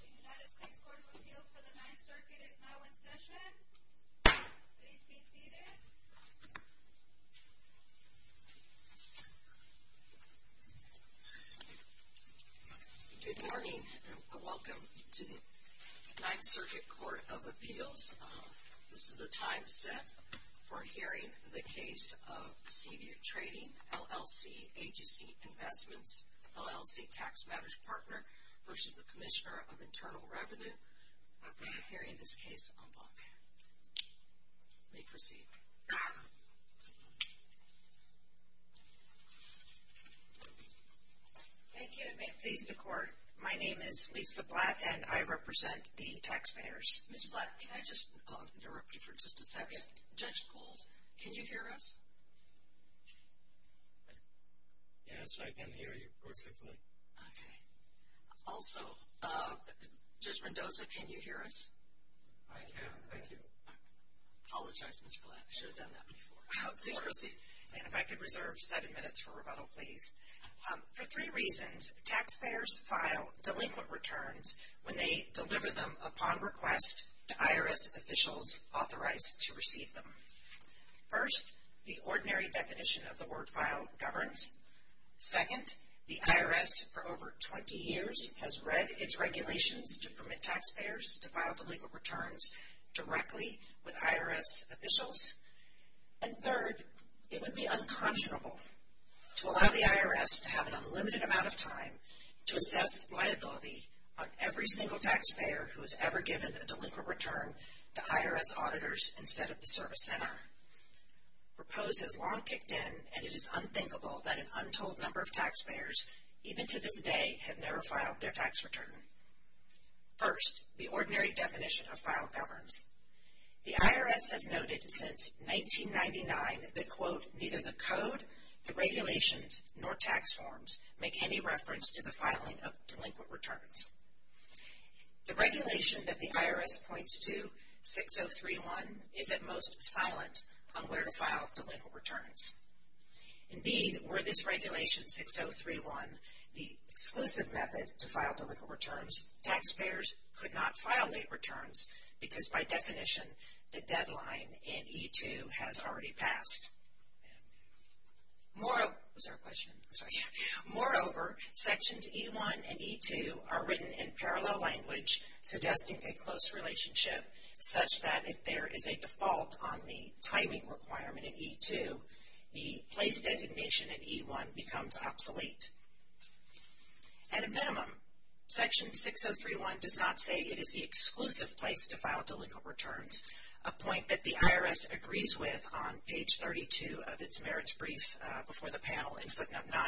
The United States Court of Appeals for the Ninth Circuit is now in session. Please be seated. Good morning and welcome to the Ninth Circuit Court of Appeals. This is the time set for hearing the case of Seaview Trading, LLC, AGC Investments, LLC Tax Managed Partner v. Commissioner of Internal Revenue. We are hearing this case en bloc. We may proceed. Thank you and may it please the Court, my name is Lisa Blatt and I represent the taxpayers. Ms. Blatt, can I just interrupt you for just a second? Yes. Judge Gould, can you hear us? Yes, I can hear you perfectly. Okay. Also, Judge Mendoza, can you hear us? I can, thank you. Apologize, Ms. Blatt, I should have done that before. Please proceed. And if I could reserve seven minutes for rebuttal, please. For three reasons, taxpayers file delinquent returns when they deliver them upon request to IRS officials authorized to receive them. First, the ordinary definition of the word file governs. Second, the IRS for over 20 years has read its regulations to permit taxpayers to file delinquent returns directly with IRS officials. And third, it would be unconscionable to allow the IRS to have an unlimited amount of time to assess liability on every single taxpayer who has ever given a delinquent return to IRS auditors instead of the service center. Propose has long kicked in, and it is unthinkable that an untold number of taxpayers, even to this day, have never filed their tax return. First, the ordinary definition of file governs. The IRS has noted since 1999 that, quote, neither the code, the regulations, nor tax forms make any reference to the filing of delinquent returns. The regulation that the IRS points to, 6031, is at most silent on where to file delinquent returns. Indeed, were this regulation, 6031, the exclusive method to file delinquent returns, taxpayers could not file late returns because, by definition, the deadline in E-2 has already passed. Moreover, Sections E-1 and E-2 are written in parallel language suggesting a close relationship, such that if there is a default on the timing requirement in E-2, the place designation in E-1 becomes obsolete. At a minimum, Section 6031 does not say it is the exclusive place to file delinquent returns, a point that the IRS agrees with on page 32 of its merits brief before the panel in footnote 9.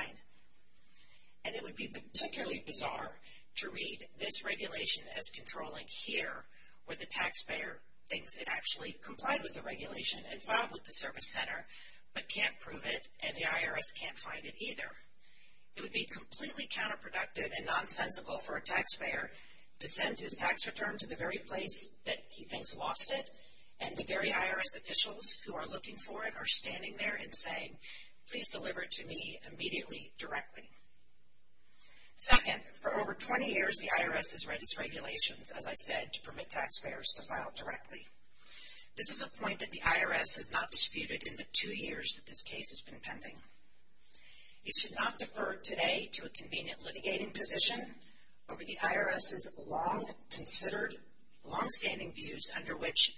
And it would be particularly bizarre to read this regulation as controlling here, where the taxpayer thinks it actually complied with the regulation and filed with the service center, but can't prove it and the IRS can't find it either. It would be completely counterproductive and nonsensical for a taxpayer to send his tax return to the very place that he thinks lost it, and the very IRS officials who are looking for it are standing there and saying, please deliver it to me immediately, directly. Second, for over 20 years, the IRS has read these regulations, as I said, to permit taxpayers to file directly. This is a point that the IRS has not disputed in the two years that this case has been pending. It should not defer today to a convenient litigating position over the IRS's long-considered, long-standing views under which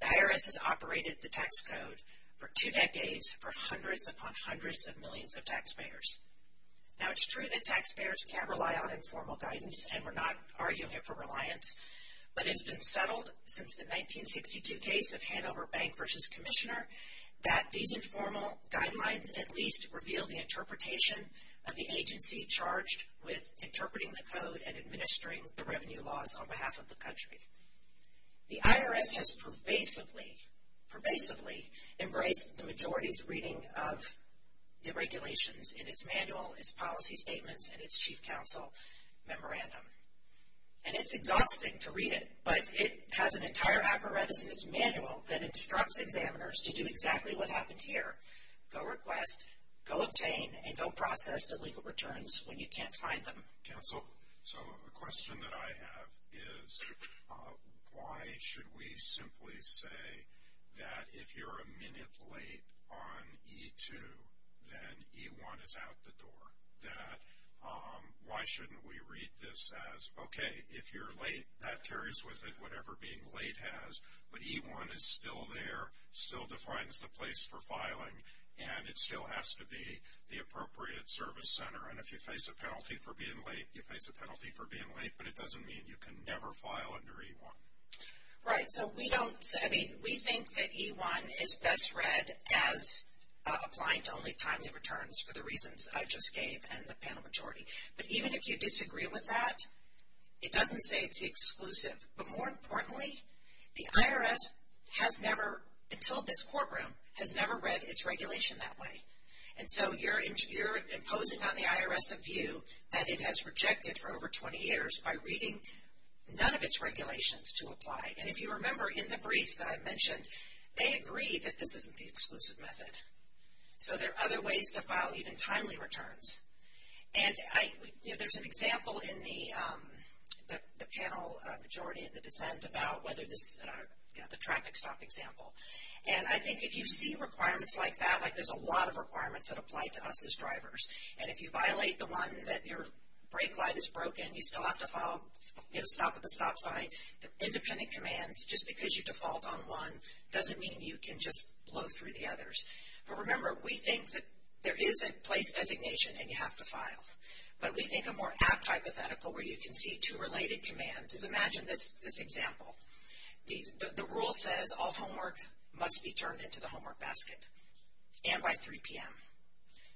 the IRS has operated the tax code for two decades for hundreds upon hundreds of millions of taxpayers. Now, it's true that taxpayers can't rely on informal guidance, and we're not arguing it for reliance, but it's been settled since the 1962 case of Hanover Bank v. Commissioner that these informal guidelines at least reveal the interpretation of the agency charged with interpreting the code and administering the revenue laws on behalf of the country. The IRS has pervasively, pervasively embraced the majority's reading of the regulations in its manual, its policy statements, and its chief counsel memorandum. And it's exhausting to read it, but it has an entire apparatus in its manual that instructs examiners to do exactly what happened here. Go request, go obtain, and go process the legal returns when you can't find them. Counsel, so a question that I have is why should we simply say that if you're a minute late on E2, then E1 is out the door? That why shouldn't we read this as, okay, if you're late, that carries with it, whatever being late has. But E1 is still there, still defines the place for filing, and it still has to be the appropriate service center. And if you face a penalty for being late, you face a penalty for being late, but it doesn't mean you can never file under E1. Right, so we don't, I mean, we think that E1 is best read as applying to only timely returns for the reasons I just gave and the panel majority. But even if you disagree with that, it doesn't say it's exclusive. But more importantly, the IRS has never, until this courtroom, has never read its regulation that way. And so you're imposing on the IRS a view that it has rejected for over 20 years by reading none of its regulations to apply. And if you remember in the brief that I mentioned, they agree that this isn't the exclusive method. So there are other ways to file even timely returns. And I, you know, there's an example in the panel majority in the dissent about whether this, you know, the traffic stop example. And I think if you see requirements like that, like there's a lot of requirements that apply to us as drivers. And if you violate the one that your brake light is broken, you still have to file, you know, stop at the stop sign. The independent commands, just because you default on one, doesn't mean you can just blow through the others. But remember, we think that there is a place designation and you have to file. But we think a more apt hypothetical where you can see two related commands is imagine this example. The rule says all homework must be turned into the homework basket and by 3 p.m.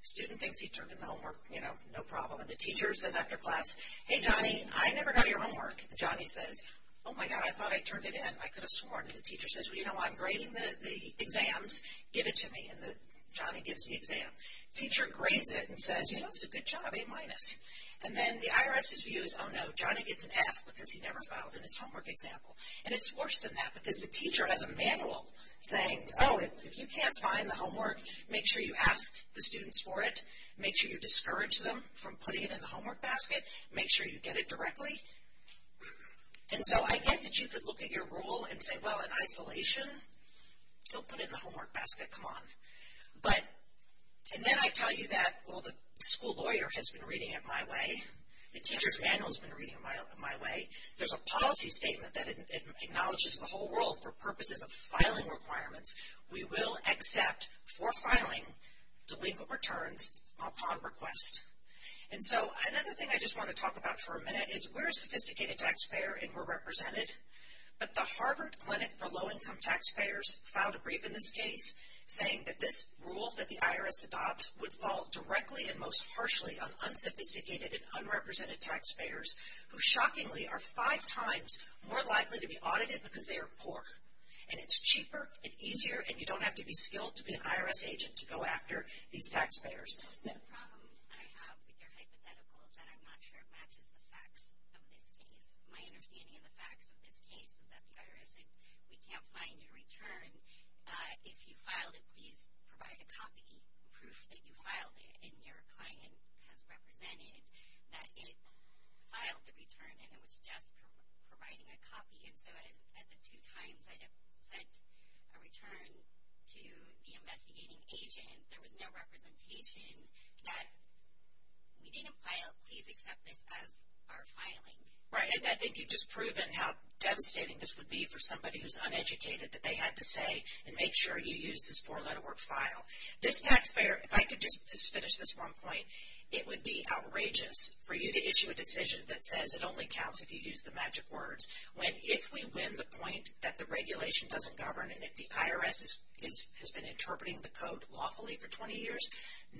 Student thinks he turned in the homework, you know, no problem. And the teacher says after class, hey, Johnny, I never got your homework. Johnny says, oh, my God, I thought I turned it in. I could have sworn. And the teacher says, well, you know, I'm grading the exams. Give it to me. And Johnny gives the exam. Teacher grades it and says, you know, that's a good job, A minus. And then the IRS's view is, oh, no, Johnny gets an F because he never filed in his homework example. And it's worse than that because the teacher has a manual saying, oh, if you can't find the homework, make sure you ask the students for it. Make sure you discourage them from putting it in the homework basket. Make sure you get it directly. And so I get that you could look at your rule and say, well, in isolation, don't put it in the homework basket. Come on. And then I tell you that, well, the school lawyer has been reading it my way. The teacher's manual has been reading it my way. There's a policy statement that acknowledges the whole world for purposes of filing requirements. We will accept for filing delinquent returns upon request. And so another thing I just want to talk about for a minute is we're a sophisticated taxpayer and we're represented. But the Harvard Clinic for Low-Income Taxpayers filed a brief in this case saying that this rule that the IRS adopts would fall directly and most harshly on unsophisticated and unrepresented taxpayers who, shockingly, are five times more likely to be audited because they are poor. And it's cheaper and easier, and you don't have to be skilled to be an IRS agent to go after these taxpayers. The problem I have with your hypothetical is that I'm not sure it matches the facts of this case. My understanding of the facts of this case is that the IRS said, we can't find your return. If you filed it, please provide a copy, proof that you filed it, and your client has represented that it filed the return and it was just providing a copy. And so at the two times I had sent a return to the investigating agent, there was no representation that we didn't file, please accept this as our filing. Right, and I think you've just proven how devastating this would be for somebody who's uneducated that they had to say and make sure you use this four-letter word file. This taxpayer, if I could just finish this one point, it would be outrageous for you to issue a decision that says it only counts if you use the magic words when if we win the point that the regulation doesn't govern and if the IRS has been interpreting the code lawfully for 20 years,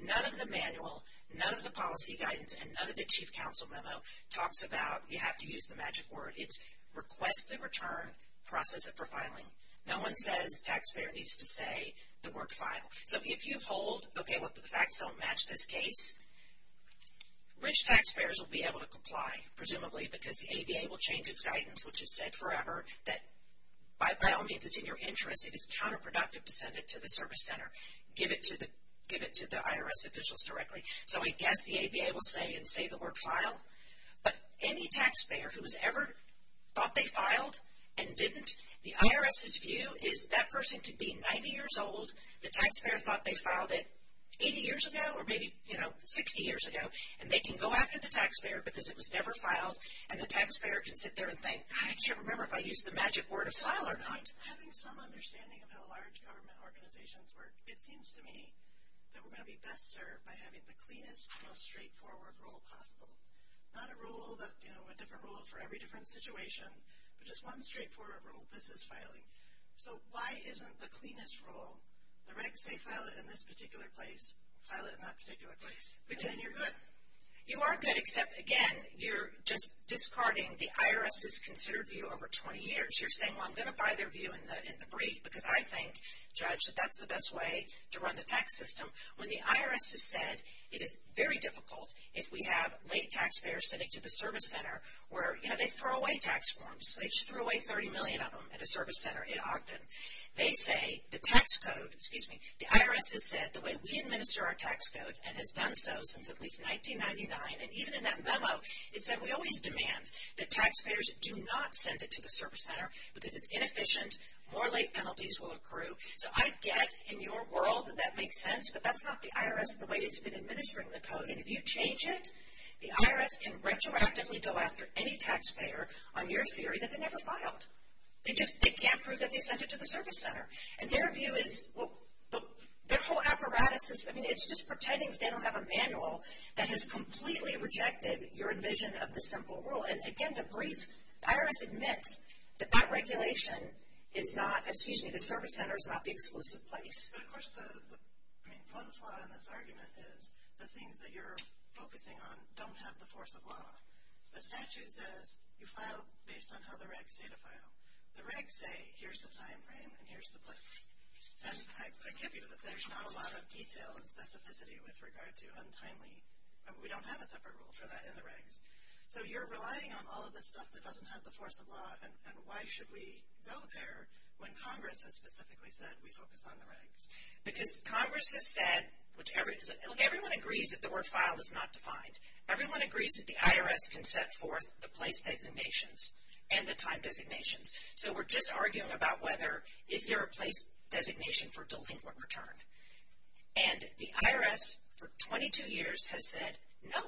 none of the manual, none of the policy guidance, and none of the chief counsel memo talks about you have to use the magic word. It's request the return, process it for filing. No one says taxpayer needs to say the word file. So if you hold, okay, the facts don't match this case, rich taxpayers will be able to comply, presumably because the ABA will change its guidance, which is said forever, that by all means it's in your interest, it is counterproductive to send it to the service center. Give it to the IRS officials directly. So I guess the ABA will say and say the word file, but any taxpayer who has ever thought they filed and didn't, the IRS's view is that person could be 90 years old, the taxpayer thought they filed it 80 years ago or maybe, you know, 60 years ago, and they can go after the taxpayer because it was never filed, and the taxpayer can sit there and think, I can't remember if I used the magic word of file or not. Having some understanding of how large government organizations work, it seems to me that we're going to be best served by having the cleanest, most straightforward rule possible. Not a rule that, you know, a different rule for every different situation, but just one straightforward rule, this is filing. So why isn't the cleanest rule, the regs say file it in this particular place, file it in that particular place, and then you're good? You are good, except, again, you're just discarding the IRS's considered view over 20 years. You're saying, well, I'm going to buy their view in the brief because I think, Judge, that that's the best way to run the tax system. When the IRS has said it is very difficult if we have late taxpayers sending to the service center where, you know, they throw away tax forms, they just threw away 30 million of them at a service center in Ogden. They say the tax code, excuse me, the IRS has said the way we administer our tax code and has done so since at least 1999, and even in that memo, it said we always demand that taxpayers do not send it to the service center because it's inefficient, more late penalties will accrue. So I get in your world that that makes sense, but that's not the IRS, the way it's been administering the code, and if you change it, the IRS can retroactively go after any taxpayer on your theory that they never filed. They just can't prove that they sent it to the service center. And their view is, well, their whole apparatus is, I mean, it's just pretending they don't have a manual that has completely rejected your envision of the simple rule. And, again, the brief, the IRS admits that that regulation is not, excuse me, the service center is not the exclusive place. But, of course, the, I mean, one flaw in this argument is the things that you're focusing on don't have the force of law. The statute says you file based on how the regs say to file. The regs say here's the time frame and here's the place. And I can't believe that there's not a lot of detail and specificity with regard to untimely, we don't have a separate rule for that in the regs. So you're relying on all of this stuff that doesn't have the force of law, and why should we go there when Congress has specifically said we focus on the regs? Because Congress has said, look, everyone agrees that the word file is not defined. Everyone agrees that the IRS can set forth the place designations and the time designations. So we're just arguing about whether is there a place designation for delinquent return. And the IRS for 22 years has said, no,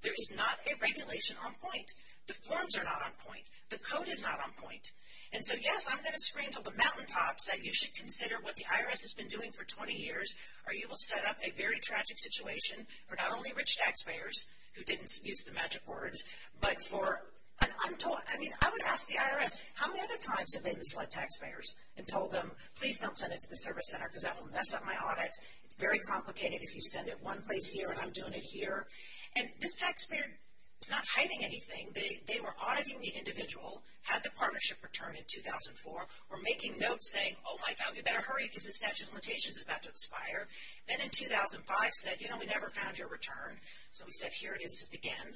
there is not a regulation on point. The forms are not on point. The code is not on point. And so, yes, I'm going to scream to the mountaintops that you should consider what the IRS has been doing for 20 years or you will set up a very tragic situation for not only rich taxpayers, who didn't use the magic words, but for an untold ‑‑ I mean, I would ask the IRS, how many other times have they misled taxpayers and told them, please don't send it to the service center because that will mess up my audit. It's very complicated if you send it one place here and I'm doing it here. And this taxpayer is not hiding anything. They were auditing the individual, had the partnership return in 2004, were making notes saying, oh, my God, we better hurry because the statute of limitations is about to expire. Then in 2005 said, you know, we never found your return. So we said, here it is again.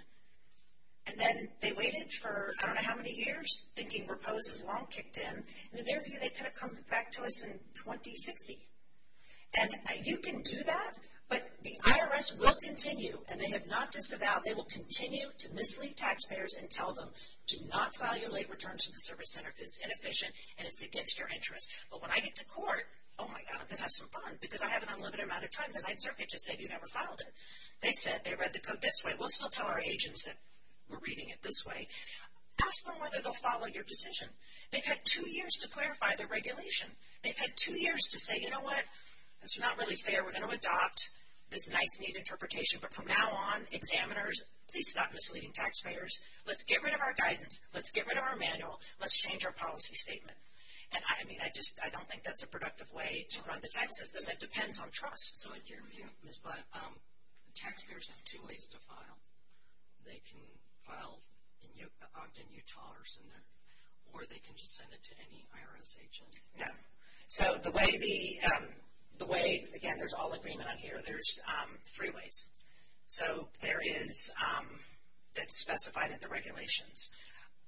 And then they waited for I don't know how many years, thinking repose has long kicked in. In their view, they could have come back to us in 2060. And you can do that, but the IRS will continue, and they have not disavowed, they will continue to mislead taxpayers and tell them, do not file your late return to the service center because it's inefficient and it's against your interest. But when I get to court, oh, my God, I'm going to have some fun because I have an unlimited amount of time. The night circuit just said you never filed it. They said, they read the code this way. We'll still tell our agents that we're reading it this way. Ask them whether they'll follow your decision. They've had two years to clarify their regulation. They've had two years to say, you know what, that's not really fair. We're going to adopt this nice neat interpretation, but from now on, please stop misleading taxpayers. Let's get rid of our guidance. Let's get rid of our manual. Let's change our policy statement. And, I mean, I just don't think that's a productive way to run the taxes because it depends on trust. So in your view, Ms. Blatt, taxpayers have two ways to file. They can file in Ogden, Utah or somewhere, or they can just send it to any IRS agent. No. So the way, again, there's all agreement on here, there's three ways. So there is, that's specified in the regulations,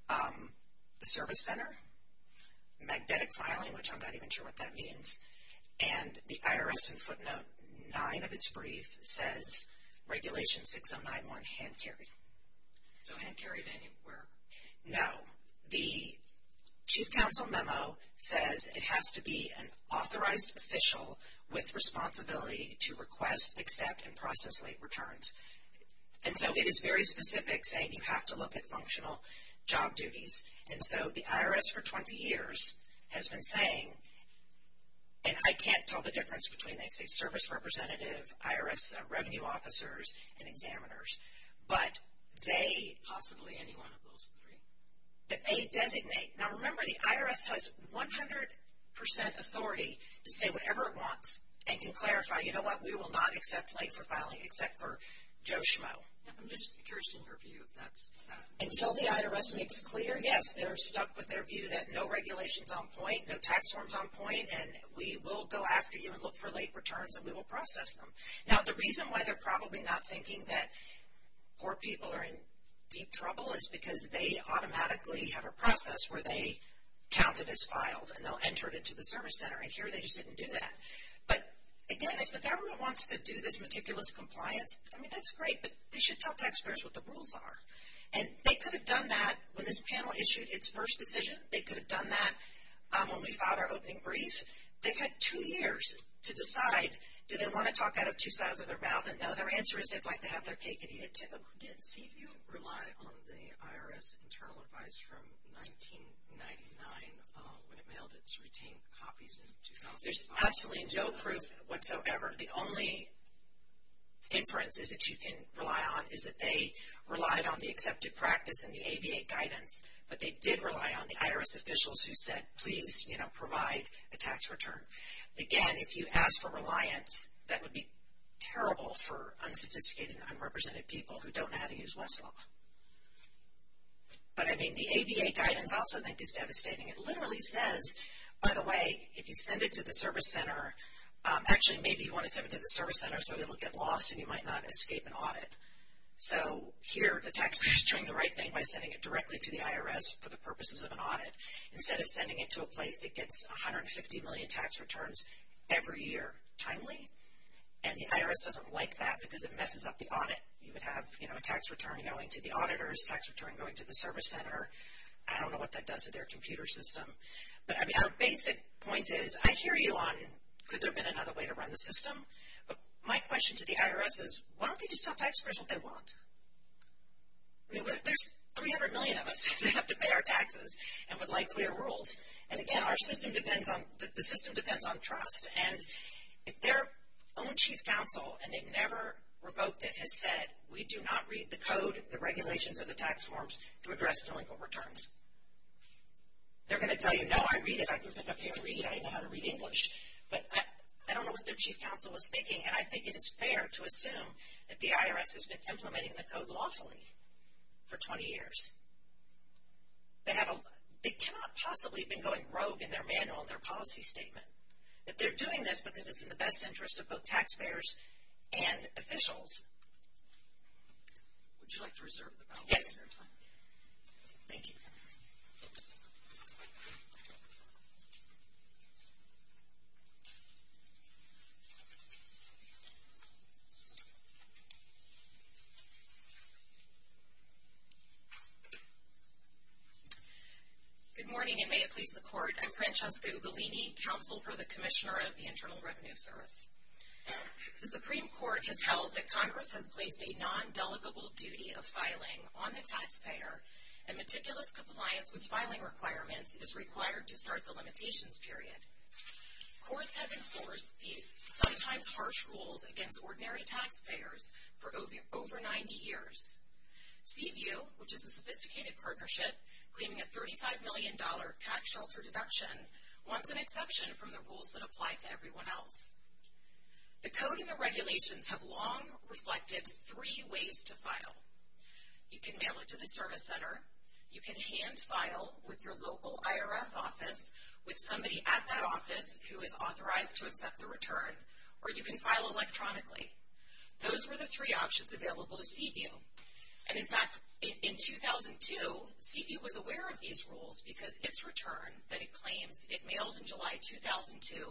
the service center, magnetic filing, which I'm not even sure what that means, and the IRS in footnote 9 of its brief says, regulation 6091, hand carry. So hand carried anywhere? No. The chief counsel memo says it has to be an authorized official with responsibility to request, accept, and process late returns. And so it is very specific, saying you have to look at functional job duties. And so the IRS for 20 years has been saying, and I can't tell the difference between, they say service representative, IRS revenue officers, and examiners. But they, possibly any one of those three, that they designate. Now, remember, the IRS has 100% authority to say whatever it wants and can clarify, you know what, we will not accept late for filing except for Joe Schmo. I'm just curious in your view if that's. And so the IRS makes clear, yes, they're stuck with their view that no regulation's on point, no tax form's on point, and we will go after you and look for late returns and we will process them. Now, the reason why they're probably not thinking that poor people are in deep trouble is because they automatically have a process where they count it as filed and they'll enter it into the service center, and here they just didn't do that. But, again, if the government wants to do this meticulous compliance, I mean, that's great, but they should tell taxpayers what the rules are. And they could have done that when this panel issued its first decision. They could have done that when we filed our opening brief. They've had two years to decide, do they want to talk out of two sides of their mouth? And now their answer is they'd like to have their cake and eat it too. I did see you rely on the IRS internal advice from 1999 when it mailed its retained copies in 2005. There's absolutely no proof whatsoever. The only inference is that you can rely on is that they relied on the accepted practice and the ABA guidance, but they did rely on the IRS officials who said, please, you know, provide a tax return. Again, if you ask for reliance, that would be terrible for unsophisticated and unrepresented people who don't know how to use Westlaw. But, I mean, the ABA guidance I also think is devastating. It literally says, by the way, if you send it to the service center, actually, maybe you want to send it to the service center so it will get lost and you might not escape an audit. So here the taxpayer is doing the right thing by sending it directly to the IRS for the purposes of an audit. Instead of sending it to a place that gets 150 million tax returns every year timely, and the IRS doesn't like that because it messes up the audit. You would have, you know, a tax return going to the auditors, tax return going to the service center. I don't know what that does to their computer system. But, I mean, our basic point is I hear you on could there have been another way to run the system, but my question to the IRS is why don't they just tell taxpayers what they want? I mean, there's 300 million of us that have to pay our taxes and would like clear rules. And, again, our system depends on, the system depends on trust. And if their own chief counsel, and they've never revoked it, has said we do not read the code, the regulations, or the tax forms to address delinquent returns, they're going to tell you, no, I read it. I can pick up here and read it. I know how to read English. But I don't know what their chief counsel was thinking, and I think it is fair to assume that the IRS has been implementing the code lawfully for 20 years. They cannot possibly have been going rogue in their manual and their policy statement. But they're doing this because it's in the best interest of both taxpayers and officials. Would you like to reserve the microphone? Yes. Thank you. I'm Francesca Ugolini, Counsel for the Commissioner of the Internal Revenue Service. The Supreme Court has held that Congress has placed a non-delegable duty of filing on the taxpayer, and meticulous compliance with filing requirements is required to start the limitations period. Courts have enforced these sometimes harsh rules against ordinary taxpayers for over 90 years. CVU, which is a sophisticated partnership claiming a $35 million tax shelter deduction, wants an exception from the rules that apply to everyone else. The code and the regulations have long reflected three ways to file. You can mail it to the service center. You can hand-file with your local IRS office with somebody at that office who is authorized to accept the return. Or you can file electronically. Those were the three options available to CVU. And, in fact, in 2002, CVU was aware of these rules because its return that it claims it mailed in July 2002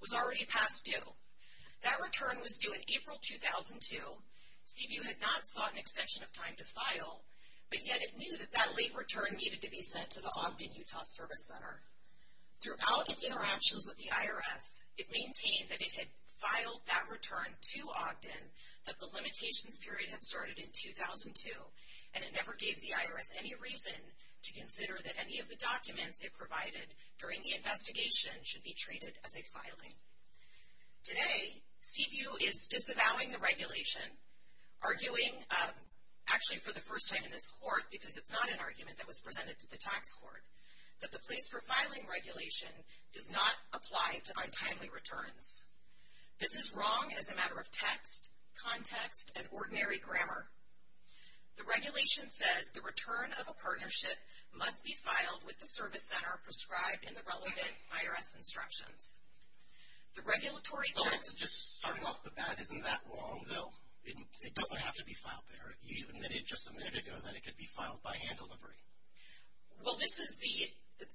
was already past due. That return was due in April 2002. CVU had not sought an extension of time to file, but yet it knew that that late return needed to be sent to the Ogden Utah Service Center. Throughout its interactions with the IRS, it maintained that it had filed that return to Ogden, that the limitations period had started in 2002, and it never gave the IRS any reason to consider that any of the documents it provided during the investigation should be treated as a filing. Today, CVU is disavowing the regulation, arguing, actually for the first time in this court, because it's not an argument that was presented to the tax court, that the place for filing regulation does not apply to untimely returns. This is wrong as a matter of text, context, and ordinary grammar. The regulation says the return of a partnership must be filed with the service center prescribed in the relevant IRS instructions. The regulatory... Well, that's just starting off the bat. Isn't that wrong, though? It doesn't have to be filed there. You admitted just a minute ago that it could be filed by hand delivery. Well, this is the...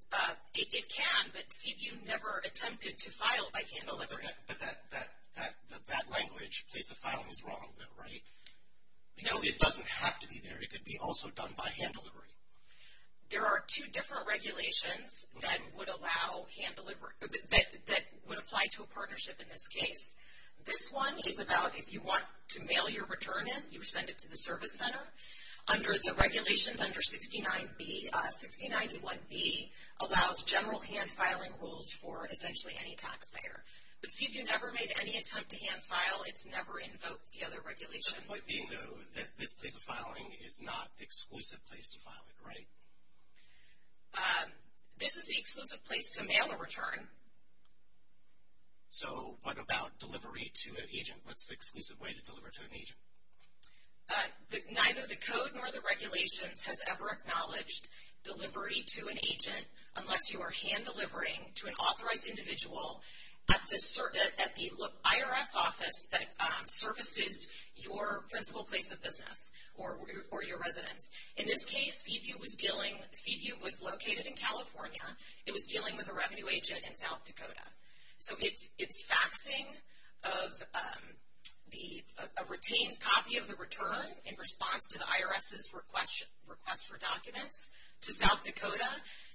It can, but CVU never attempted to file by hand delivery. But that language, place of filing, is wrong, though, right? No. Because it doesn't have to be there. It could be also done by hand delivery. There are two different regulations that would allow hand delivery... that would apply to a partnership in this case. This one is about if you want to mail your return in, you send it to the service center. Under the regulations under 69B, 6091B allows general hand filing rules for essentially any taxpayer. But CVU never made any attempt to hand file. It's never invoked the other regulations. The point being, though, that this place of filing is not the exclusive place to file it, right? This is the exclusive place to mail a return. So what about delivery to an agent? What's the exclusive way to deliver to an agent? Neither the code nor the regulations has ever acknowledged delivery to an agent unless you are hand delivering to an authorized individual at the IRS office that services your principal place of business or your residence. In this case, CVU was dealing... CVU was located in California. It was dealing with a revenue agent in South Dakota. So its faxing of a retained copy of the return in response to the IRS's request for documents to South Dakota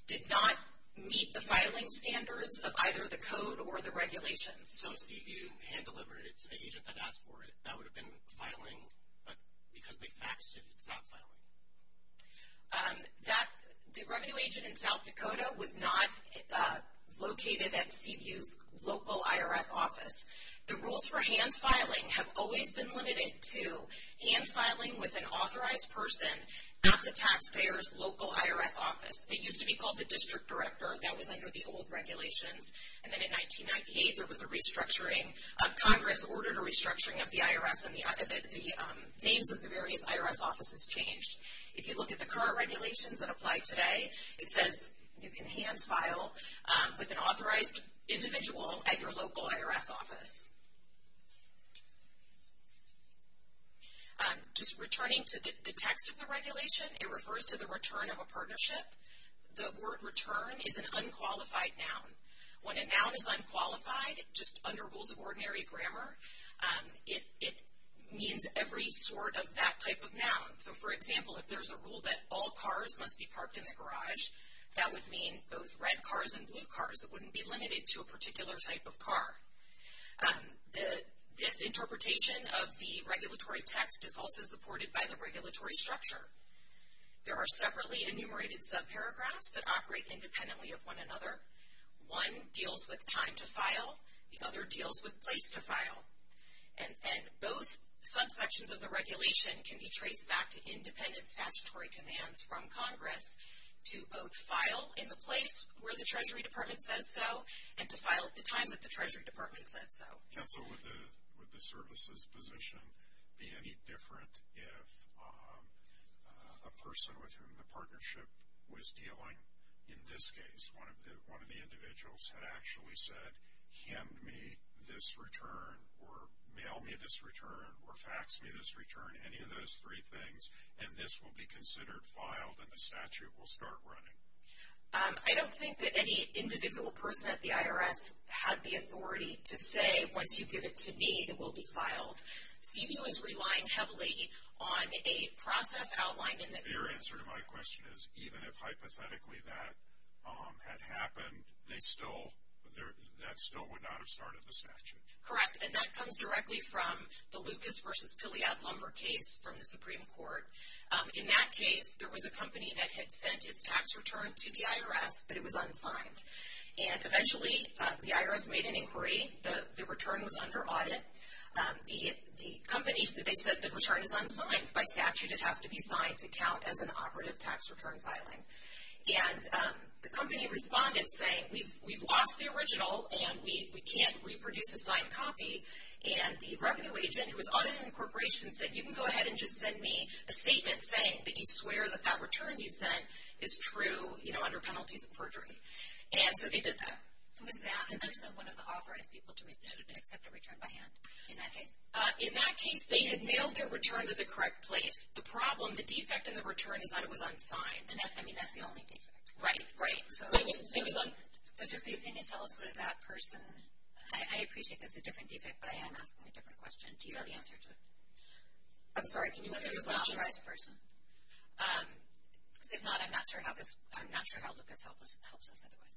did not meet the filing standards of either the code or the regulations. So if CVU hand delivered it to the agent that asked for it, that would have been filing, but because they faxed it, it's not filing. The revenue agent in South Dakota was not located at CVU's local IRS office. The rules for hand filing have always been limited to hand filing with an authorized person at the taxpayer's local IRS office. It used to be called the district director. That was under the old regulations. And then in 1998, there was a restructuring. Congress ordered a restructuring of the IRS and the names of the various IRS offices changed. If you look at the current regulations that apply today, it says you can hand file with an authorized individual at your local IRS office. Just returning to the text of the regulation, it refers to the return of a partnership. The word return is an unqualified noun. When a noun is unqualified, just under rules of ordinary grammar, it means every sort of that type of noun. So for example, if there's a rule that all cars must be parked in the garage, that would mean those red cars and blue cars. It wouldn't be limited to a particular type of car. This interpretation of the regulatory text is also supported by the regulatory structure. There are separately enumerated subparagraphs that operate independently of one another. One deals with time to file. The other deals with place to file. And both subsections of the regulation can be traced back to independent statutory commands from Congress to both file in the place where the Treasury Department says so and to file at the time that the Treasury Department said so. Council, would the services position be any different if a person with whom the partnership was dealing, in this case one of the individuals, had actually said, hand me this return or mail me this return or fax me this return, any of those three things, and this will be considered filed and the statute will start running? I don't think that any individual person at the IRS had the authority to say, once you give it to me, it will be filed. CVU is relying heavily on a process outlined in the... Your answer to my question is, even if hypothetically that had happened, they still, that still would not have started the statute. Correct. And that comes directly from the Lucas versus Piliad Lumber case from the Supreme Court. In that case, there was a company that had sent its tax return to the IRS, but it was unsigned. And eventually, the IRS made an inquiry. The return was under audit. The companies, they said the return is unsigned by statute. It has to be signed to count as an operative tax return filing. And the company responded saying, we've lost the original and we can't reproduce a signed copy. And the revenue agent who was audited in the corporation said, you can go ahead and just send me a statement saying that you swear that that return you sent is true, you know, under penalties of perjury. And so they did that. Was that the person, one of the authorized people to accept a return by hand in that case? In that case, they had mailed their return to the correct place. The problem, the defect in the return is that it was unsigned. I mean, that's the only defect. Right, right. Does the opinion tell us whether that person, I appreciate this is a different defect, but I am asking a different question. Do you have the answer to it? I'm sorry, can you repeat the question? Whether it was an authorized person? Because if not, I'm not sure how Lucas helps us otherwise.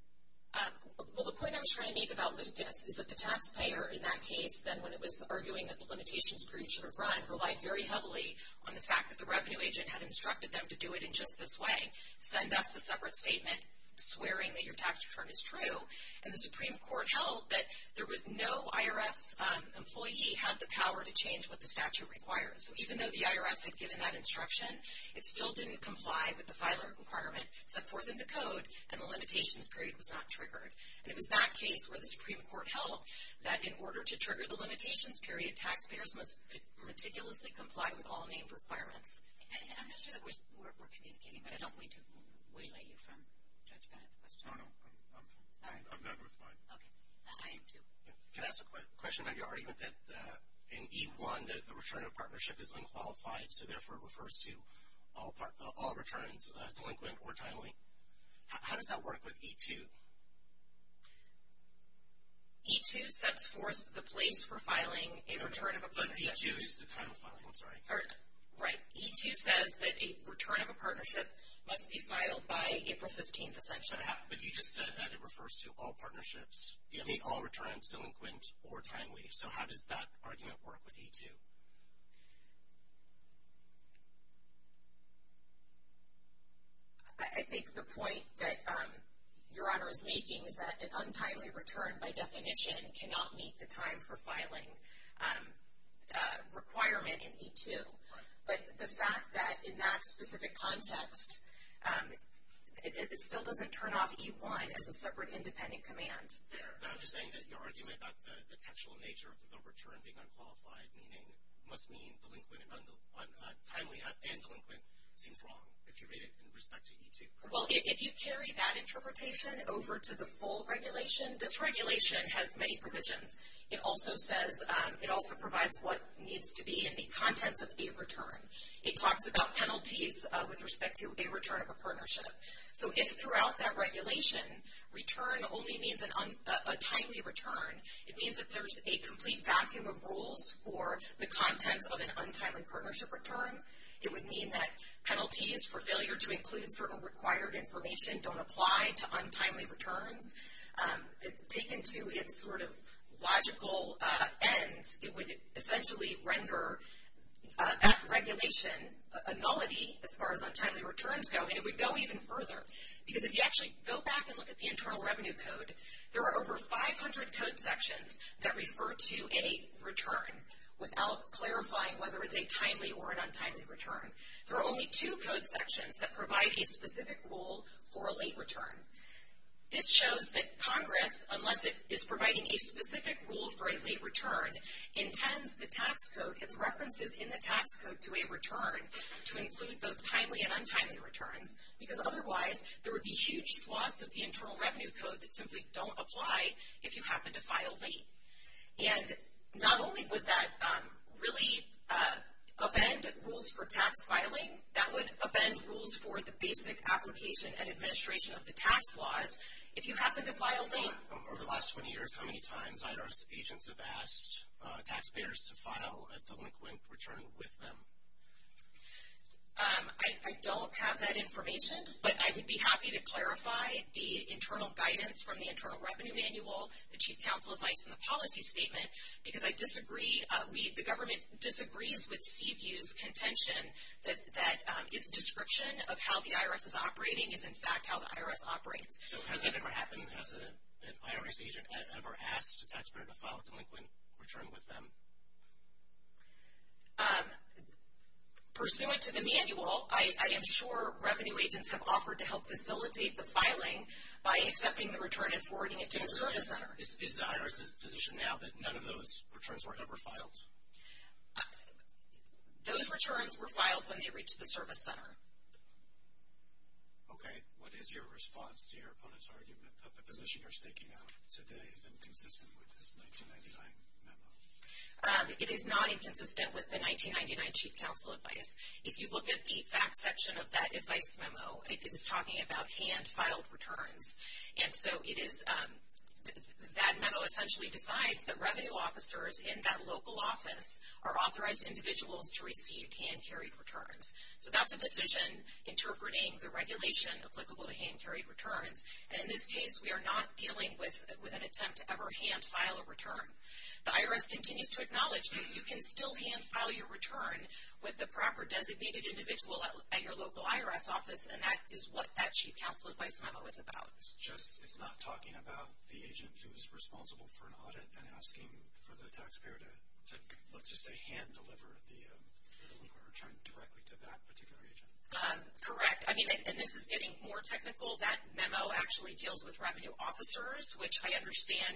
Well, the point I was trying to make about Lucas is that the taxpayer in that case, then when it was arguing that the limitations perjury should have run, relied very heavily on the fact that the revenue agent had instructed them to do it in just this way, send us a separate statement swearing that your tax return is true, and the Supreme Court held that no IRS employee had the power to change what the statute requires. So even though the IRS had given that instruction, it still didn't comply with the filing requirement, set forth in the code, and the limitations period was not triggered. And it was that case where the Supreme Court held that in order to trigger the limitations period, taxpayers must meticulously comply with all named requirements. I'm not sure that we're communicating, but I don't mean to waylay you from Judge Bennett's question. No, no. I'm fine. Okay. I am too. Can I ask a question about your argument that in E1, the return of partnership is unqualified, so therefore it refers to all returns, delinquent or timely? How does that work with E2? E2 sets forth the place for filing a return of a partnership. But E2 is the time of filing, I'm sorry. Right. E2 says that a return of a partnership must be filed by April 15th, essentially. But you just said that it refers to all partnerships, I mean all returns, delinquent or timely. So how does that argument work with E2? I think the point that Your Honor is making is that an untimely return, by definition, cannot meet the time for filing requirement in E2. Right. But the fact that in that specific context, it still doesn't turn off E1 as a separate independent command. I'm just saying that your argument about the textual nature of the return being unqualified, meaning it must mean delinquent and timely and delinquent, seems wrong if you read it in respect to E2. Well, if you carry that interpretation over to the full regulation, this regulation has many provisions. It also provides what needs to be in the contents of a return. It talks about penalties with respect to a return of a partnership. So if throughout that regulation return only means a timely return, it means that there's a complete vacuum of rules for the contents of an untimely partnership return. It would mean that penalties for failure to include certain required information don't apply to untimely returns. Taken to its sort of logical end, it would essentially render that regulation a nullity as far as untimely returns go, and it would go even further. Because if you actually go back and look at the Internal Revenue Code, there are over 500 code sections that refer to a return without clarifying whether it's a timely or an untimely return. There are only two code sections that provide a specific rule for a late return. This shows that Congress, unless it is providing a specific rule for a late return, intends the tax code, its references in the tax code to a return to include both timely and untimely returns, because otherwise there would be huge swaths of the Internal Revenue Code that simply don't apply if you happen to file late. And not only would that really amend rules for tax filing, that would amend rules for the basic application and administration of the tax laws. If you happen to file late... Over the last 20 years, how many times IHRS agents have asked taxpayers to file a delinquent return with them? I don't have that information, but I would be happy to clarify the internal guidance from the Internal Revenue Manual, the Chief Counsel advice, and the policy statement, because I disagree. The government disagrees with Steve Hughes' contention that its description of how the IRS is operating is in fact how the IRS operates. So has that ever happened? Has an IRS agent ever asked a taxpayer to file a delinquent return with them? Pursuant to the manual, I am sure revenue agents have offered to help facilitate the filing by accepting the return and forwarding it to the service center. Is the IRS's position now that none of those returns were ever filed? Those returns were filed when they reached the service center. Okay. What is your response to your opponent's argument that the position you're staking out today is inconsistent with this 1999 memo? It is not inconsistent with the 1999 Chief Counsel advice. If you look at the facts section of that advice memo, it is talking about hand-filed returns. And so that memo essentially decides that revenue officers in that local office are authorized individuals to receive hand-carried returns. So that's a decision interpreting the regulation applicable to hand-carried returns. And in this case, we are not dealing with an attempt to ever hand-file a return. The IRS continues to acknowledge that you can still hand-file your return with the proper designated individual at your local IRS office, and that is what that Chief Counsel advice memo is about. It's just it's not talking about the agent who is responsible for an audit and asking for the taxpayer to, let's just say, hand-deliver the return directly to that particular agent? Correct. I mean, and this is getting more technical. That memo actually deals with revenue officers, which I understand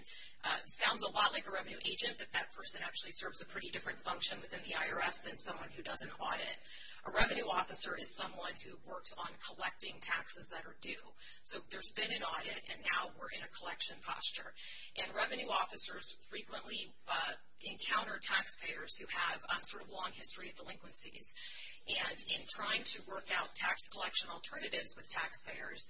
sounds a lot like a revenue agent, but that person actually serves a pretty different function within the IRS than someone who does an audit. A revenue officer is someone who works on collecting taxes that are due. So there's been an audit, and now we're in a collection posture. And revenue officers frequently encounter taxpayers who have a sort of long history of delinquencies. And in trying to work out tax collection alternatives with taxpayers,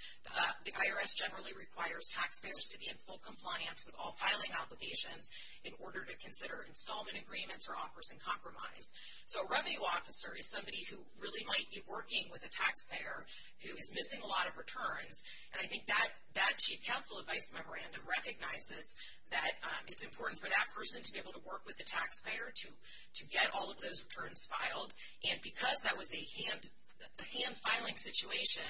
the IRS generally requires taxpayers to be in full compliance with all filing obligations in order to consider installment agreements or offers in compromise. So a revenue officer is somebody who really might be working with a taxpayer who is missing a lot of returns, and I think that Chief Counsel advice memorandum recognizes that it's important for that person to be able to work with the taxpayer to get all of those returns filed. And because that was a hand-filing situation,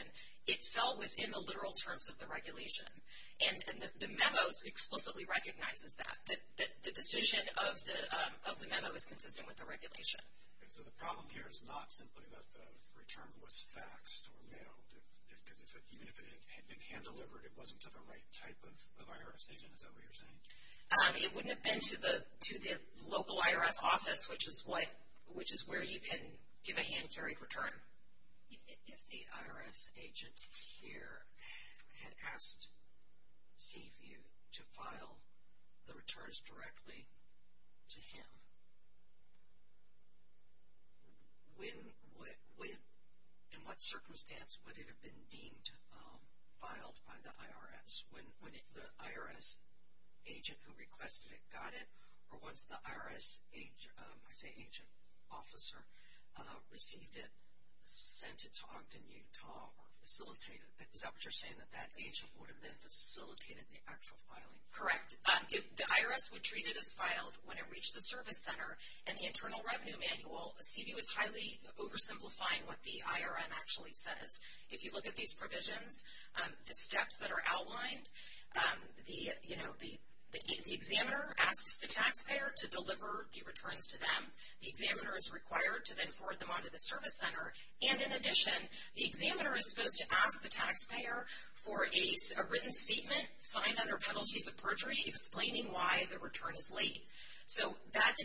it fell within the literal terms of the regulation. And the memo explicitly recognizes that, that the decision of the memo is consistent with the regulation. And so the problem here is not simply that the return was faxed or mailed, because even if it had been hand-delivered, it wasn't to the right type of IRS agent. Is that what you're saying? It wouldn't have been to the local IRS office, which is where you can give a hand-carried return. If the IRS agent here had asked Seaview to file the returns directly to him, in what circumstance would it have been deemed filed by the IRS? When the IRS agent who requested it got it? Or once the IRS agent, I say agent, officer, received it, sent it to Ogden, Utah, or facilitated it? Is that what you're saying, that that agent would have then facilitated the actual filing? Correct. The IRS would treat it as filed when it reached the service center. In the Internal Revenue Manual, Seaview is highly oversimplifying what the IRM actually says. If you look at these provisions, the steps that are outlined, the examiner asks the taxpayer to deliver the returns to them. The examiner is required to then forward them on to the service center. And in addition, the examiner is supposed to ask the taxpayer for a written statement signed under penalties of perjury, explaining why the return is late. So that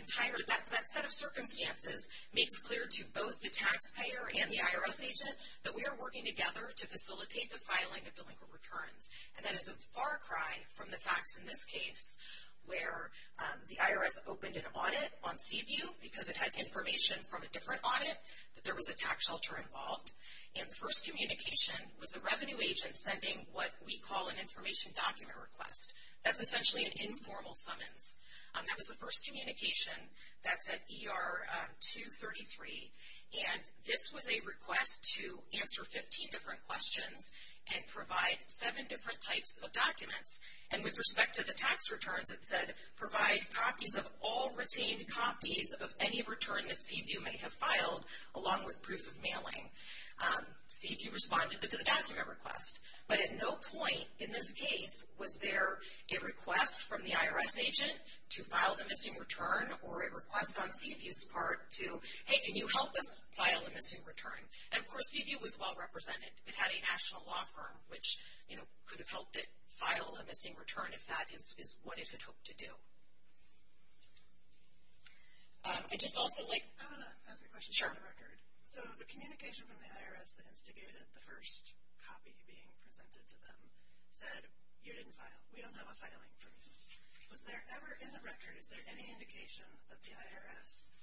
set of circumstances makes clear to both the taxpayer and the IRS agent that we are working together to facilitate the filing of delinquent returns. And that is a far cry from the facts in this case where the IRS opened an audit on Seaview because it had information from a different audit that there was a tax shelter involved. And the first communication was the revenue agent sending what we call an information document request. That's essentially an informal summons. That was the first communication. That's at ER 233. And this was a request to answer 15 different questions and provide seven different types of documents. And with respect to the tax returns, it said provide copies of all retained copies of any return that Seaview may have filed, along with proof of mailing. Seaview responded to the document request. But at no point in this case was there a request from the IRS agent to file the missing return or a request on Seaview's part to, hey, can you help us file the missing return? And, of course, Seaview was well represented. It had a national law firm, which, you know, could have helped it file a missing return if that is what it had hoped to do. I'd just also like – I want to ask a question on the record. Sure. So the communication from the IRS that instigated the first copy being presented to them said you didn't file, we don't have a filing for you. Was there ever in the record, is there any indication that the IRS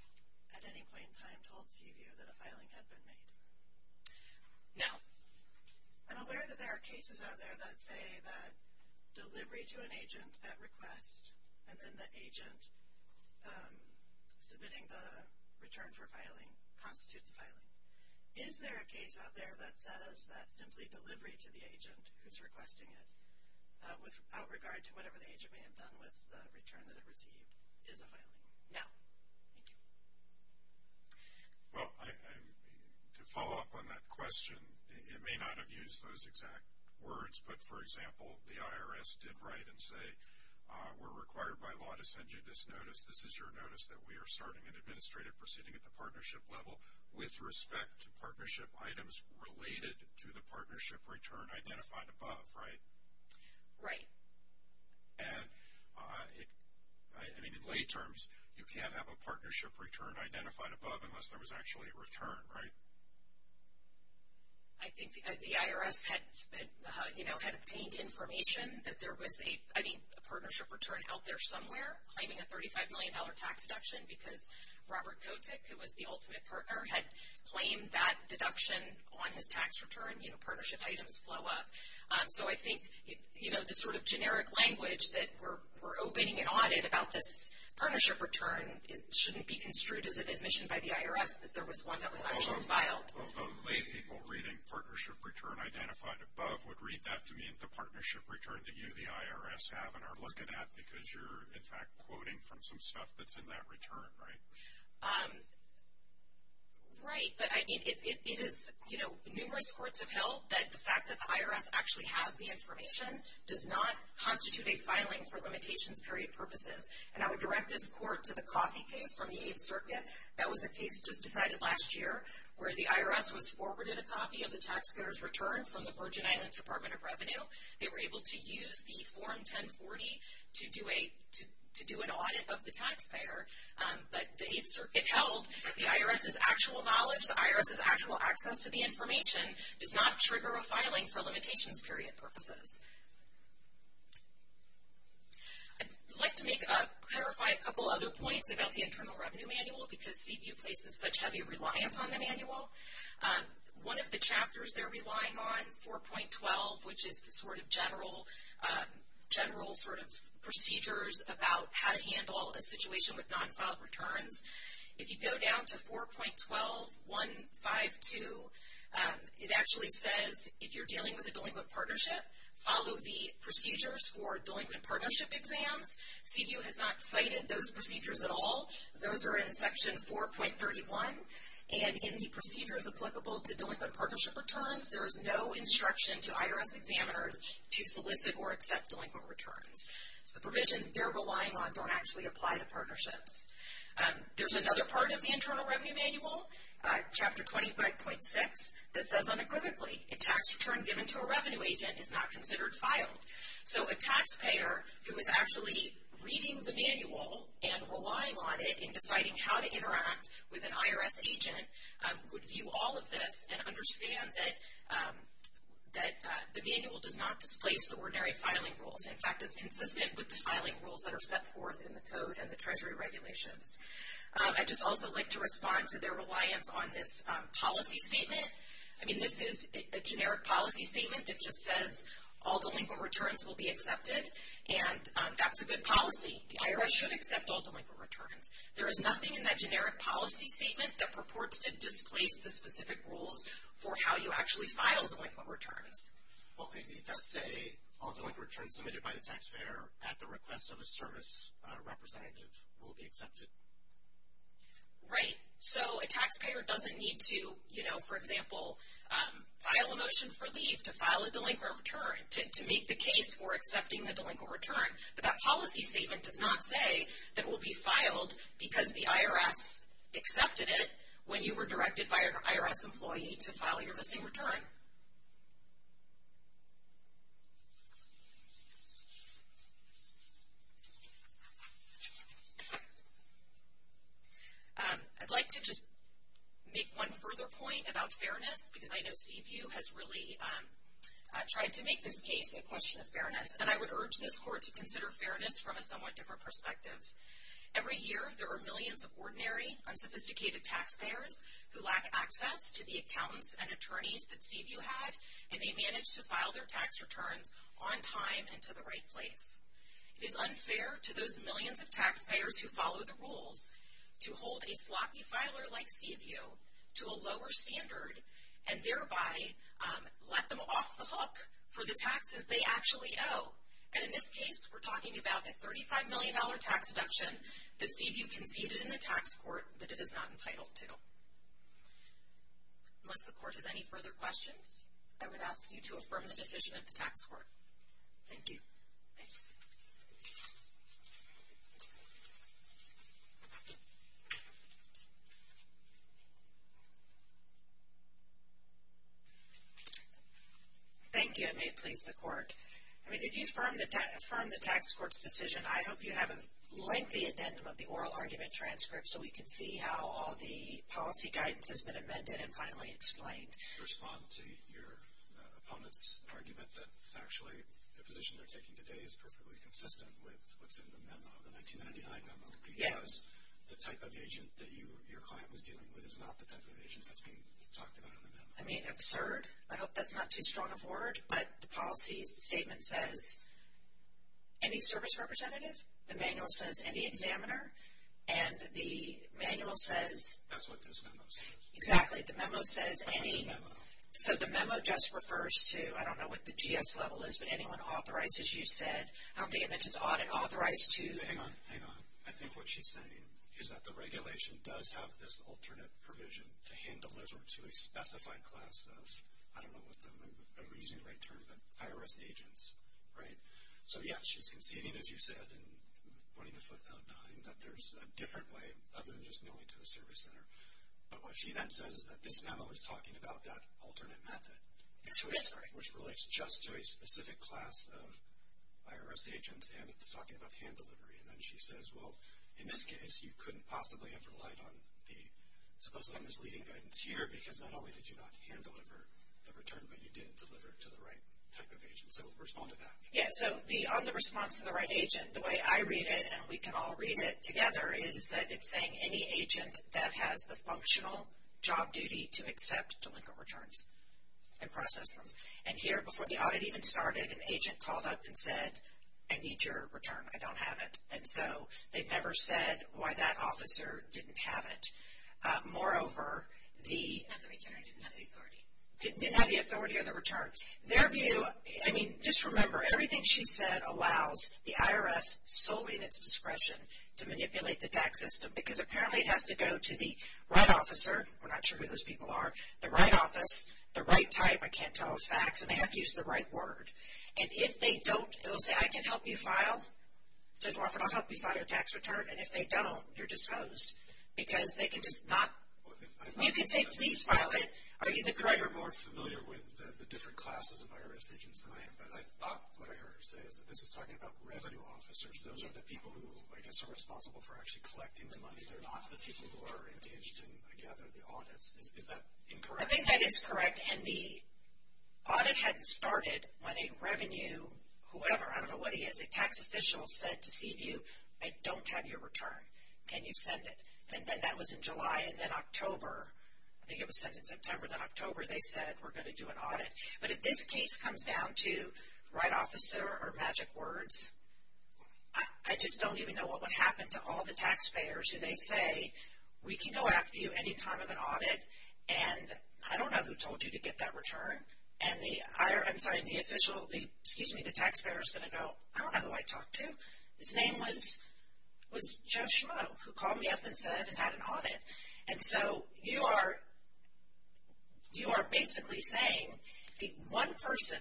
at any point in time told Seaview that a filing had been made? No. I'm aware that there are cases out there that say that delivery to an agent at request and then the agent submitting the return for filing constitutes a filing. Is there a case out there that says that simply delivery to the agent who's requesting it, without regard to whatever the agent may have done with the return that it received, is a filing? No. Thank you. Well, to follow up on that question, it may not have used those exact words, but, for example, the IRS did write and say, we're required by law to send you this notice. This is your notice that we are starting an administrative proceeding at the partnership level with respect to partnership items related to the partnership return identified above, right? Right. And, I mean, in lay terms, you can't have a partnership return identified above unless there was actually a return, right? I think the IRS had, you know, had obtained information that there was a partnership return out there somewhere claiming a $35 million tax deduction because Robert Kotick, who was the ultimate partner, had claimed that deduction on his tax return. You know, partnership items flow up. So I think, you know, the sort of generic language that we're opening an audit about this partnership return shouldn't be construed as an admission by the IRS that there was one that was actually filed. Although lay people reading partnership return identified above would read that to mean the partnership return that you, the IRS, have and are looking at because you're, in fact, quoting from some stuff that's in that return, right? Right. But it is, you know, numerous courts have held that the fact that the IRS actually has the information does not constitute a filing for limitations period purposes. And I would direct this court to the Coffey case from the 8th Circuit. That was a case just decided last year where the IRS was forwarded a copy of the taxpayer's return from the Virgin Islands Department of Revenue. They were able to use the Form 1040 to do an audit of the taxpayer. But the 8th Circuit held the IRS's actual knowledge, the IRS's actual access to the information, does not trigger a filing for limitations period purposes. I'd like to clarify a couple other points about the Internal Revenue Manual because CBU places such heavy reliance on the manual. One of the chapters they're relying on, 4.12, which is the sort of general sort of procedures about how to handle a situation with non-filed returns, if you go down to 4.1152, it actually says if you're dealing with a delinquent partnership, follow the procedures for delinquent partnership exams. CBU has not cited those procedures at all. Those are in Section 4.31. And in the procedures applicable to delinquent partnership returns, there is no instruction to IRS examiners to solicit or accept delinquent returns. There's another part of the Internal Revenue Manual, Chapter 25.6, that says unequivocally, a tax return given to a revenue agent is not considered filed. So a taxpayer who is actually reading the manual and relying on it in deciding how to interact with an IRS agent would view all of this and understand that the manual does not displace the ordinary filing rules. In fact, it's consistent with the filing rules that are set forth in the code and the Treasury regulations. I'd just also like to respond to their reliance on this policy statement. I mean, this is a generic policy statement that just says all delinquent returns will be accepted, and that's a good policy. The IRS should accept all delinquent returns. There is nothing in that generic policy statement that purports to displace the specific rules for how you actually file delinquent returns. Well, it does say all delinquent returns submitted by the taxpayer at the request of a service representative will be accepted. Right. So a taxpayer doesn't need to, you know, for example, file a motion for leave to file a delinquent return to make the case for accepting the delinquent return. But that policy statement does not say that it will be filed because the IRS accepted it when you were directed by an IRS employee to file your missing return. I'd like to just make one further point about fairness, because I know CPU has really tried to make this case a question of fairness, and I would urge this court to consider fairness from a somewhat different perspective. Every year there are millions of ordinary, unsophisticated taxpayers who lack access to the accountants and attorneys that CPU had, and they manage to file their tax returns on time and to the right place. It is unfair to those millions of taxpayers who follow the rules to hold a sloppy filer like CPU to a lower standard and thereby let them off the hook for the taxes they actually owe. And in this case, we're talking about a $35 million tax deduction that CPU conceded in the tax court that it is not entitled to. Unless the court has any further questions, I would ask you to affirm the decision of the tax court. Thank you. I mean, if you affirm the tax court's decision, I hope you have a lengthy addendum of the oral argument transcript so we can see how all the policy guidance has been amended and finally explained. I mean, absurd. I hope that's not too strong of a word. But the policy statement says, any service representative. The manual says, any examiner. And the manual says... That's what this memo says. Exactly. The memo says, any... What's the memo? So the memo just refers to, I don't know what the GS level is, but anyone authorized, as you said, I don't think it mentions audit, authorized to... Hang on, hang on. I think what she's saying is that the regulation does have this alternate provision to hand deliver to a specified class of, I don't know what, I'm using the right term, but IRS agents, right? So, yeah, she's conceding, as you said, and pointing a foot out behind that there's a different way other than just going to the service center. But what she then says is that this memo is talking about that alternate method. Which is correct. Which relates just to a specific class of IRS agents, and it's talking about hand delivery. And then she says, well, in this case, you couldn't possibly have relied on the supposedly misleading guidance here, because not only did you not hand deliver the return, but you didn't deliver it to the right type of agent. So respond to that. Yeah, so on the response to the right agent, the way I read it, and we can all read it together, is that it's saying any agent that has the functional job duty to accept delinquent returns and process them. And here, before the audit even started, an agent called up and said, I need your return. I don't have it. And so they've never said why that officer didn't have it. Moreover, the... Didn't have the return or didn't have the authority. Didn't have the authority or the return. Their view, I mean, just remember, everything she said allows the IRS, solely at its discretion, to manipulate the tax system, because apparently it has to go to the right officer. We're not sure who those people are. The right office, the right type. I can't tell with facts, and they have to use the right word. And if they don't, it'll say, I can help you file, and I'll help you file your tax return, and if they don't, you're disposed. Because they can just not... You can say, please file it. Are you the correct... You're more familiar with the different classes of IRS agents than I am, but I thought what I heard her say is that this is talking about revenue officers. Those are the people who, I guess, are responsible for actually collecting the money. They're not the people who are engaged in, I gather, the audits. Is that incorrect? I think that is correct. And the audit hadn't started when a revenue, whoever, I don't know what he is, a tax official said to CVU, I don't have your return. Can you send it? And then that was in July, and then October, I think it was sent in September, then October they said, we're going to do an audit. But if this case comes down to right officer or magic words, I just don't even know what would happen to all the taxpayers who they say, we can go after you any time of an audit, and I don't know who told you to get that return. And the IRS, I'm sorry, the official, excuse me, the taxpayer is going to go, I don't know who I talked to. His name was Joe Schmoe, who called me up and said and had an audit. And so you are basically saying the one person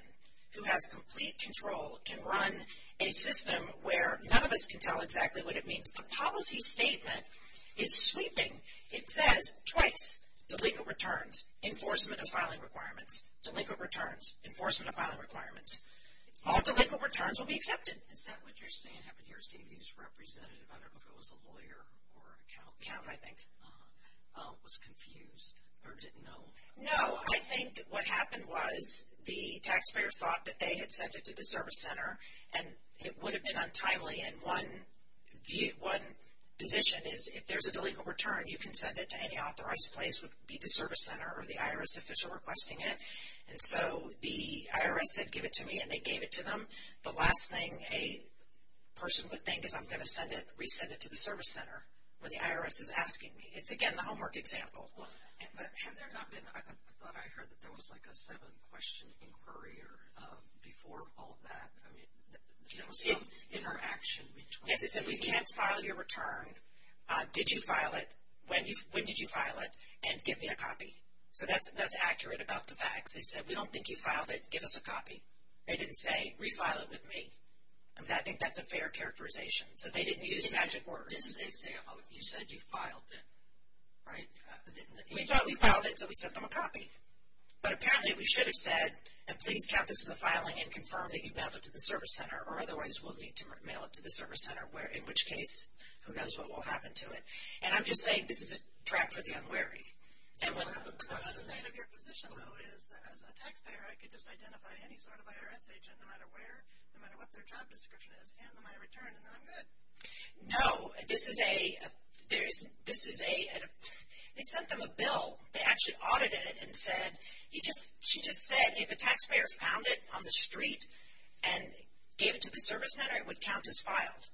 who has complete control can run a system where none of us can tell exactly what it means. The policy statement is sweeping. It says twice, delinquent returns, enforcement of filing requirements, delinquent returns, enforcement of filing requirements. All delinquent returns will be accepted. Is that what you're saying happened to your CVU's representative? I don't know if it was a lawyer or accountant. Accountant, I think. Was confused or didn't know. No, I think what happened was the taxpayer thought that they had sent it to the service center, and it would have been untimely, and one position is if there's a delinquent return, you can send it to any authorized place. It would be the service center or the IRS official requesting it. And so the IRS said give it to me, and they gave it to them. The last thing a person would think is I'm going to send it, resend it to the service center where the IRS is asking me. It's, again, the homework example. Had there not been, I thought I heard that there was like a seven-question inquiry or before all of that, I mean, there was some interaction between. Yes, it said we can't file your return. Did you file it? When did you file it? And give me a copy. So that's accurate about the facts. They said we don't think you filed it. Give us a copy. They didn't say refile it with me. I mean, I think that's a fair characterization. So they didn't use magic words. What did they say? You said you filed it, right? We thought we filed it, so we sent them a copy. But apparently we should have said, and please count this as a filing and confirm that you've mailed it to the service center, or otherwise we'll need to mail it to the service center, in which case, who knows what will happen to it. And I'm just saying this is a track for the unwary. The other side of your position, though, is that as a taxpayer, I could just identify any sort of IRS agent no matter where, no matter what their job description is, hand them my return, and then I'm good. No. This is a – they sent them a bill. They actually audited it and said – she just said if a taxpayer found it on the street and gave it to the service center, it would count as filed.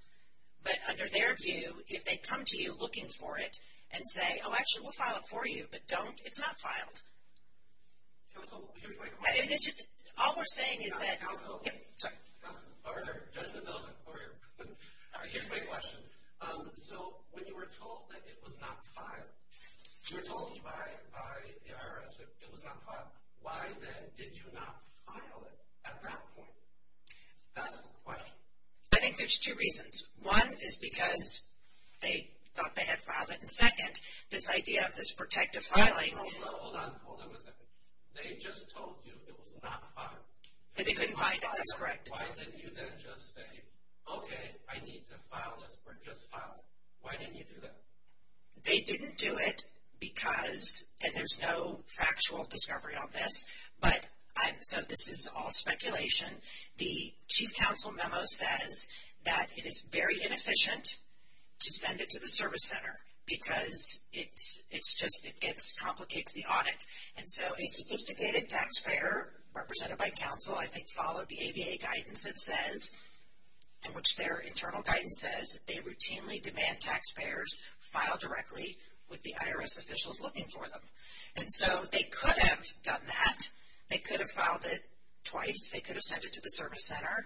But under their view, if they come to you looking for it and say, oh, actually, we'll file it for you, but don't, it's not filed. Counsel, here's my question. All we're saying is that – Counsel. Counsel. Yes, sir. Governor, Judge Mendoza, over here. Here's my question. So when you were told that it was not filed, you were told by the IRS it was not filed, why then did you not file it at that point? That's the question. I think there's two reasons. One is because they thought they had filed it, and second, this idea of this protective filing. Hold on, hold on, hold on a second. They just told you it was not filed. They couldn't find it. That's correct. Why didn't you then just say, okay, I need to file this or just file it? Why didn't you do that? They didn't do it because – and there's no factual discovery on this. But so this is all speculation. The Chief Counsel memo says that it is very inefficient to send it to the service center because it just complicates the audit. And so a sophisticated taxpayer represented by counsel, I think, followed the ABA guidance that says, in which their internal guidance says, they routinely demand taxpayers file directly with the IRS officials looking for them. And so they could have done that. They could have filed it twice. They could have sent it to the service center.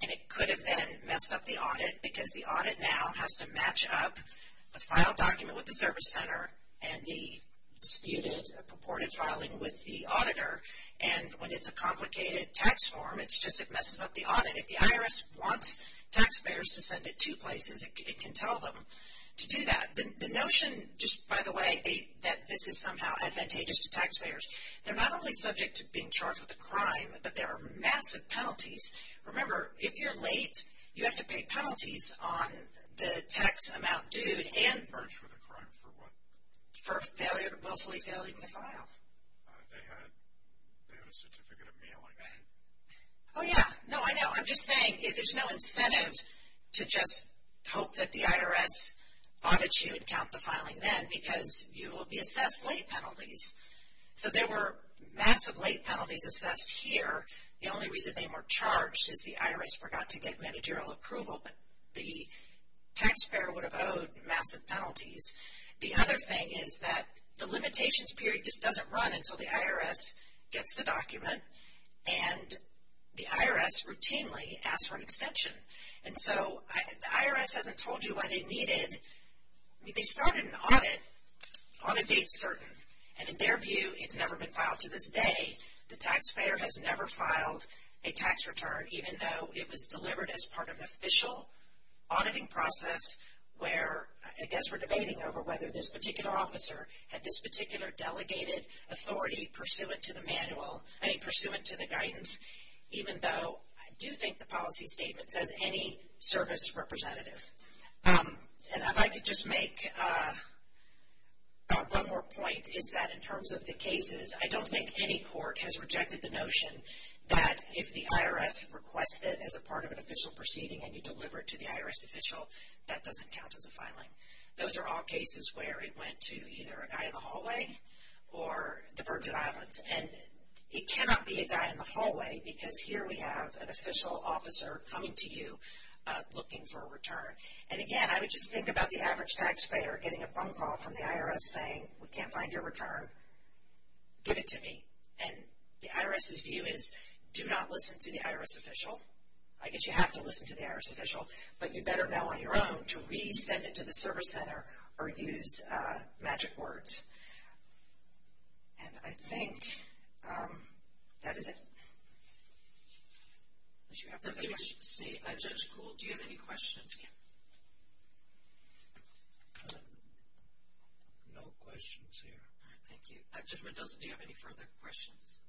And it could have then messed up the audit because the audit now has to match up the file document with the service center and the disputed purported filing with the auditor. And when it's a complicated tax form, it's just it messes up the audit. If the IRS wants taxpayers to send it to places, it can tell them to do that. The notion, just by the way, that this is somehow advantageous to taxpayers, they're not only subject to being charged with a crime, but there are massive penalties. Remember, if you're late, you have to pay penalties on the tax amount due and for a willfully failing to file. They had a certificate of mailing. Oh, yeah. No, I know. I'm just saying there's no incentive to just hope that the IRS audits you and count the filing then because you will be assessed late penalties. So there were massive late penalties assessed here. The only reason they weren't charged is the IRS forgot to get managerial approval, but the taxpayer would have owed massive penalties. The other thing is that the limitations period just doesn't run until the IRS gets the document, and the IRS routinely asks for an extension. And so the IRS hasn't told you why they needed to start an audit on a date certain. And in their view, it's never been filed to this day. The taxpayer has never filed a tax return, even though it was delivered as part of an official auditing process where I guess we're debating over whether this particular officer had this particular delegated authority pursuant to the manual, pursuant to the guidance, even though I do think the policy statement says any service representative. And if I could just make one more point, is that in terms of the cases, I don't think any court has rejected the notion that if the IRS requests it as a part of an official proceeding and you deliver it to the IRS official, that doesn't count as a filing. Those are all cases where it went to either a guy in the hallway or the Virgin Islands. And it cannot be a guy in the hallway because here we have an official officer coming to you looking for a return. And again, I would just think about the average taxpayer getting a phone call from the IRS saying, we can't find your return, give it to me. And the IRS's view is do not listen to the IRS official. I guess you have to listen to the IRS official, but you better know on your own to re-send it to the service center or use magic words. And I think that is it. Unless you have further questions. Judge Kuhl, do you have any questions? No questions here. Thank you. Judge Mendoza, do you have any further questions?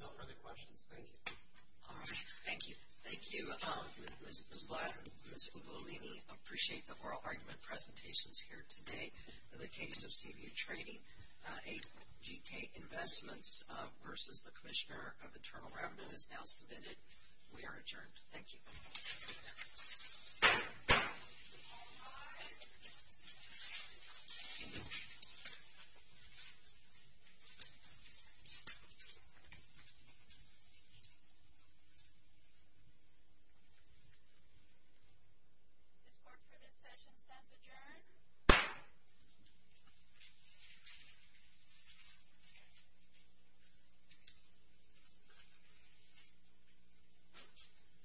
No further questions. Thank you. All right. Thank you. Thank you, Ms. Blatt and Ms. Ugolini. I appreciate the oral argument presentations here today. In the case of CBU Trading, a GK Investments versus the Commissioner of Internal Revenue is now submitted. We are adjourned. Thank you. All rise. This court for this session stands adjourned.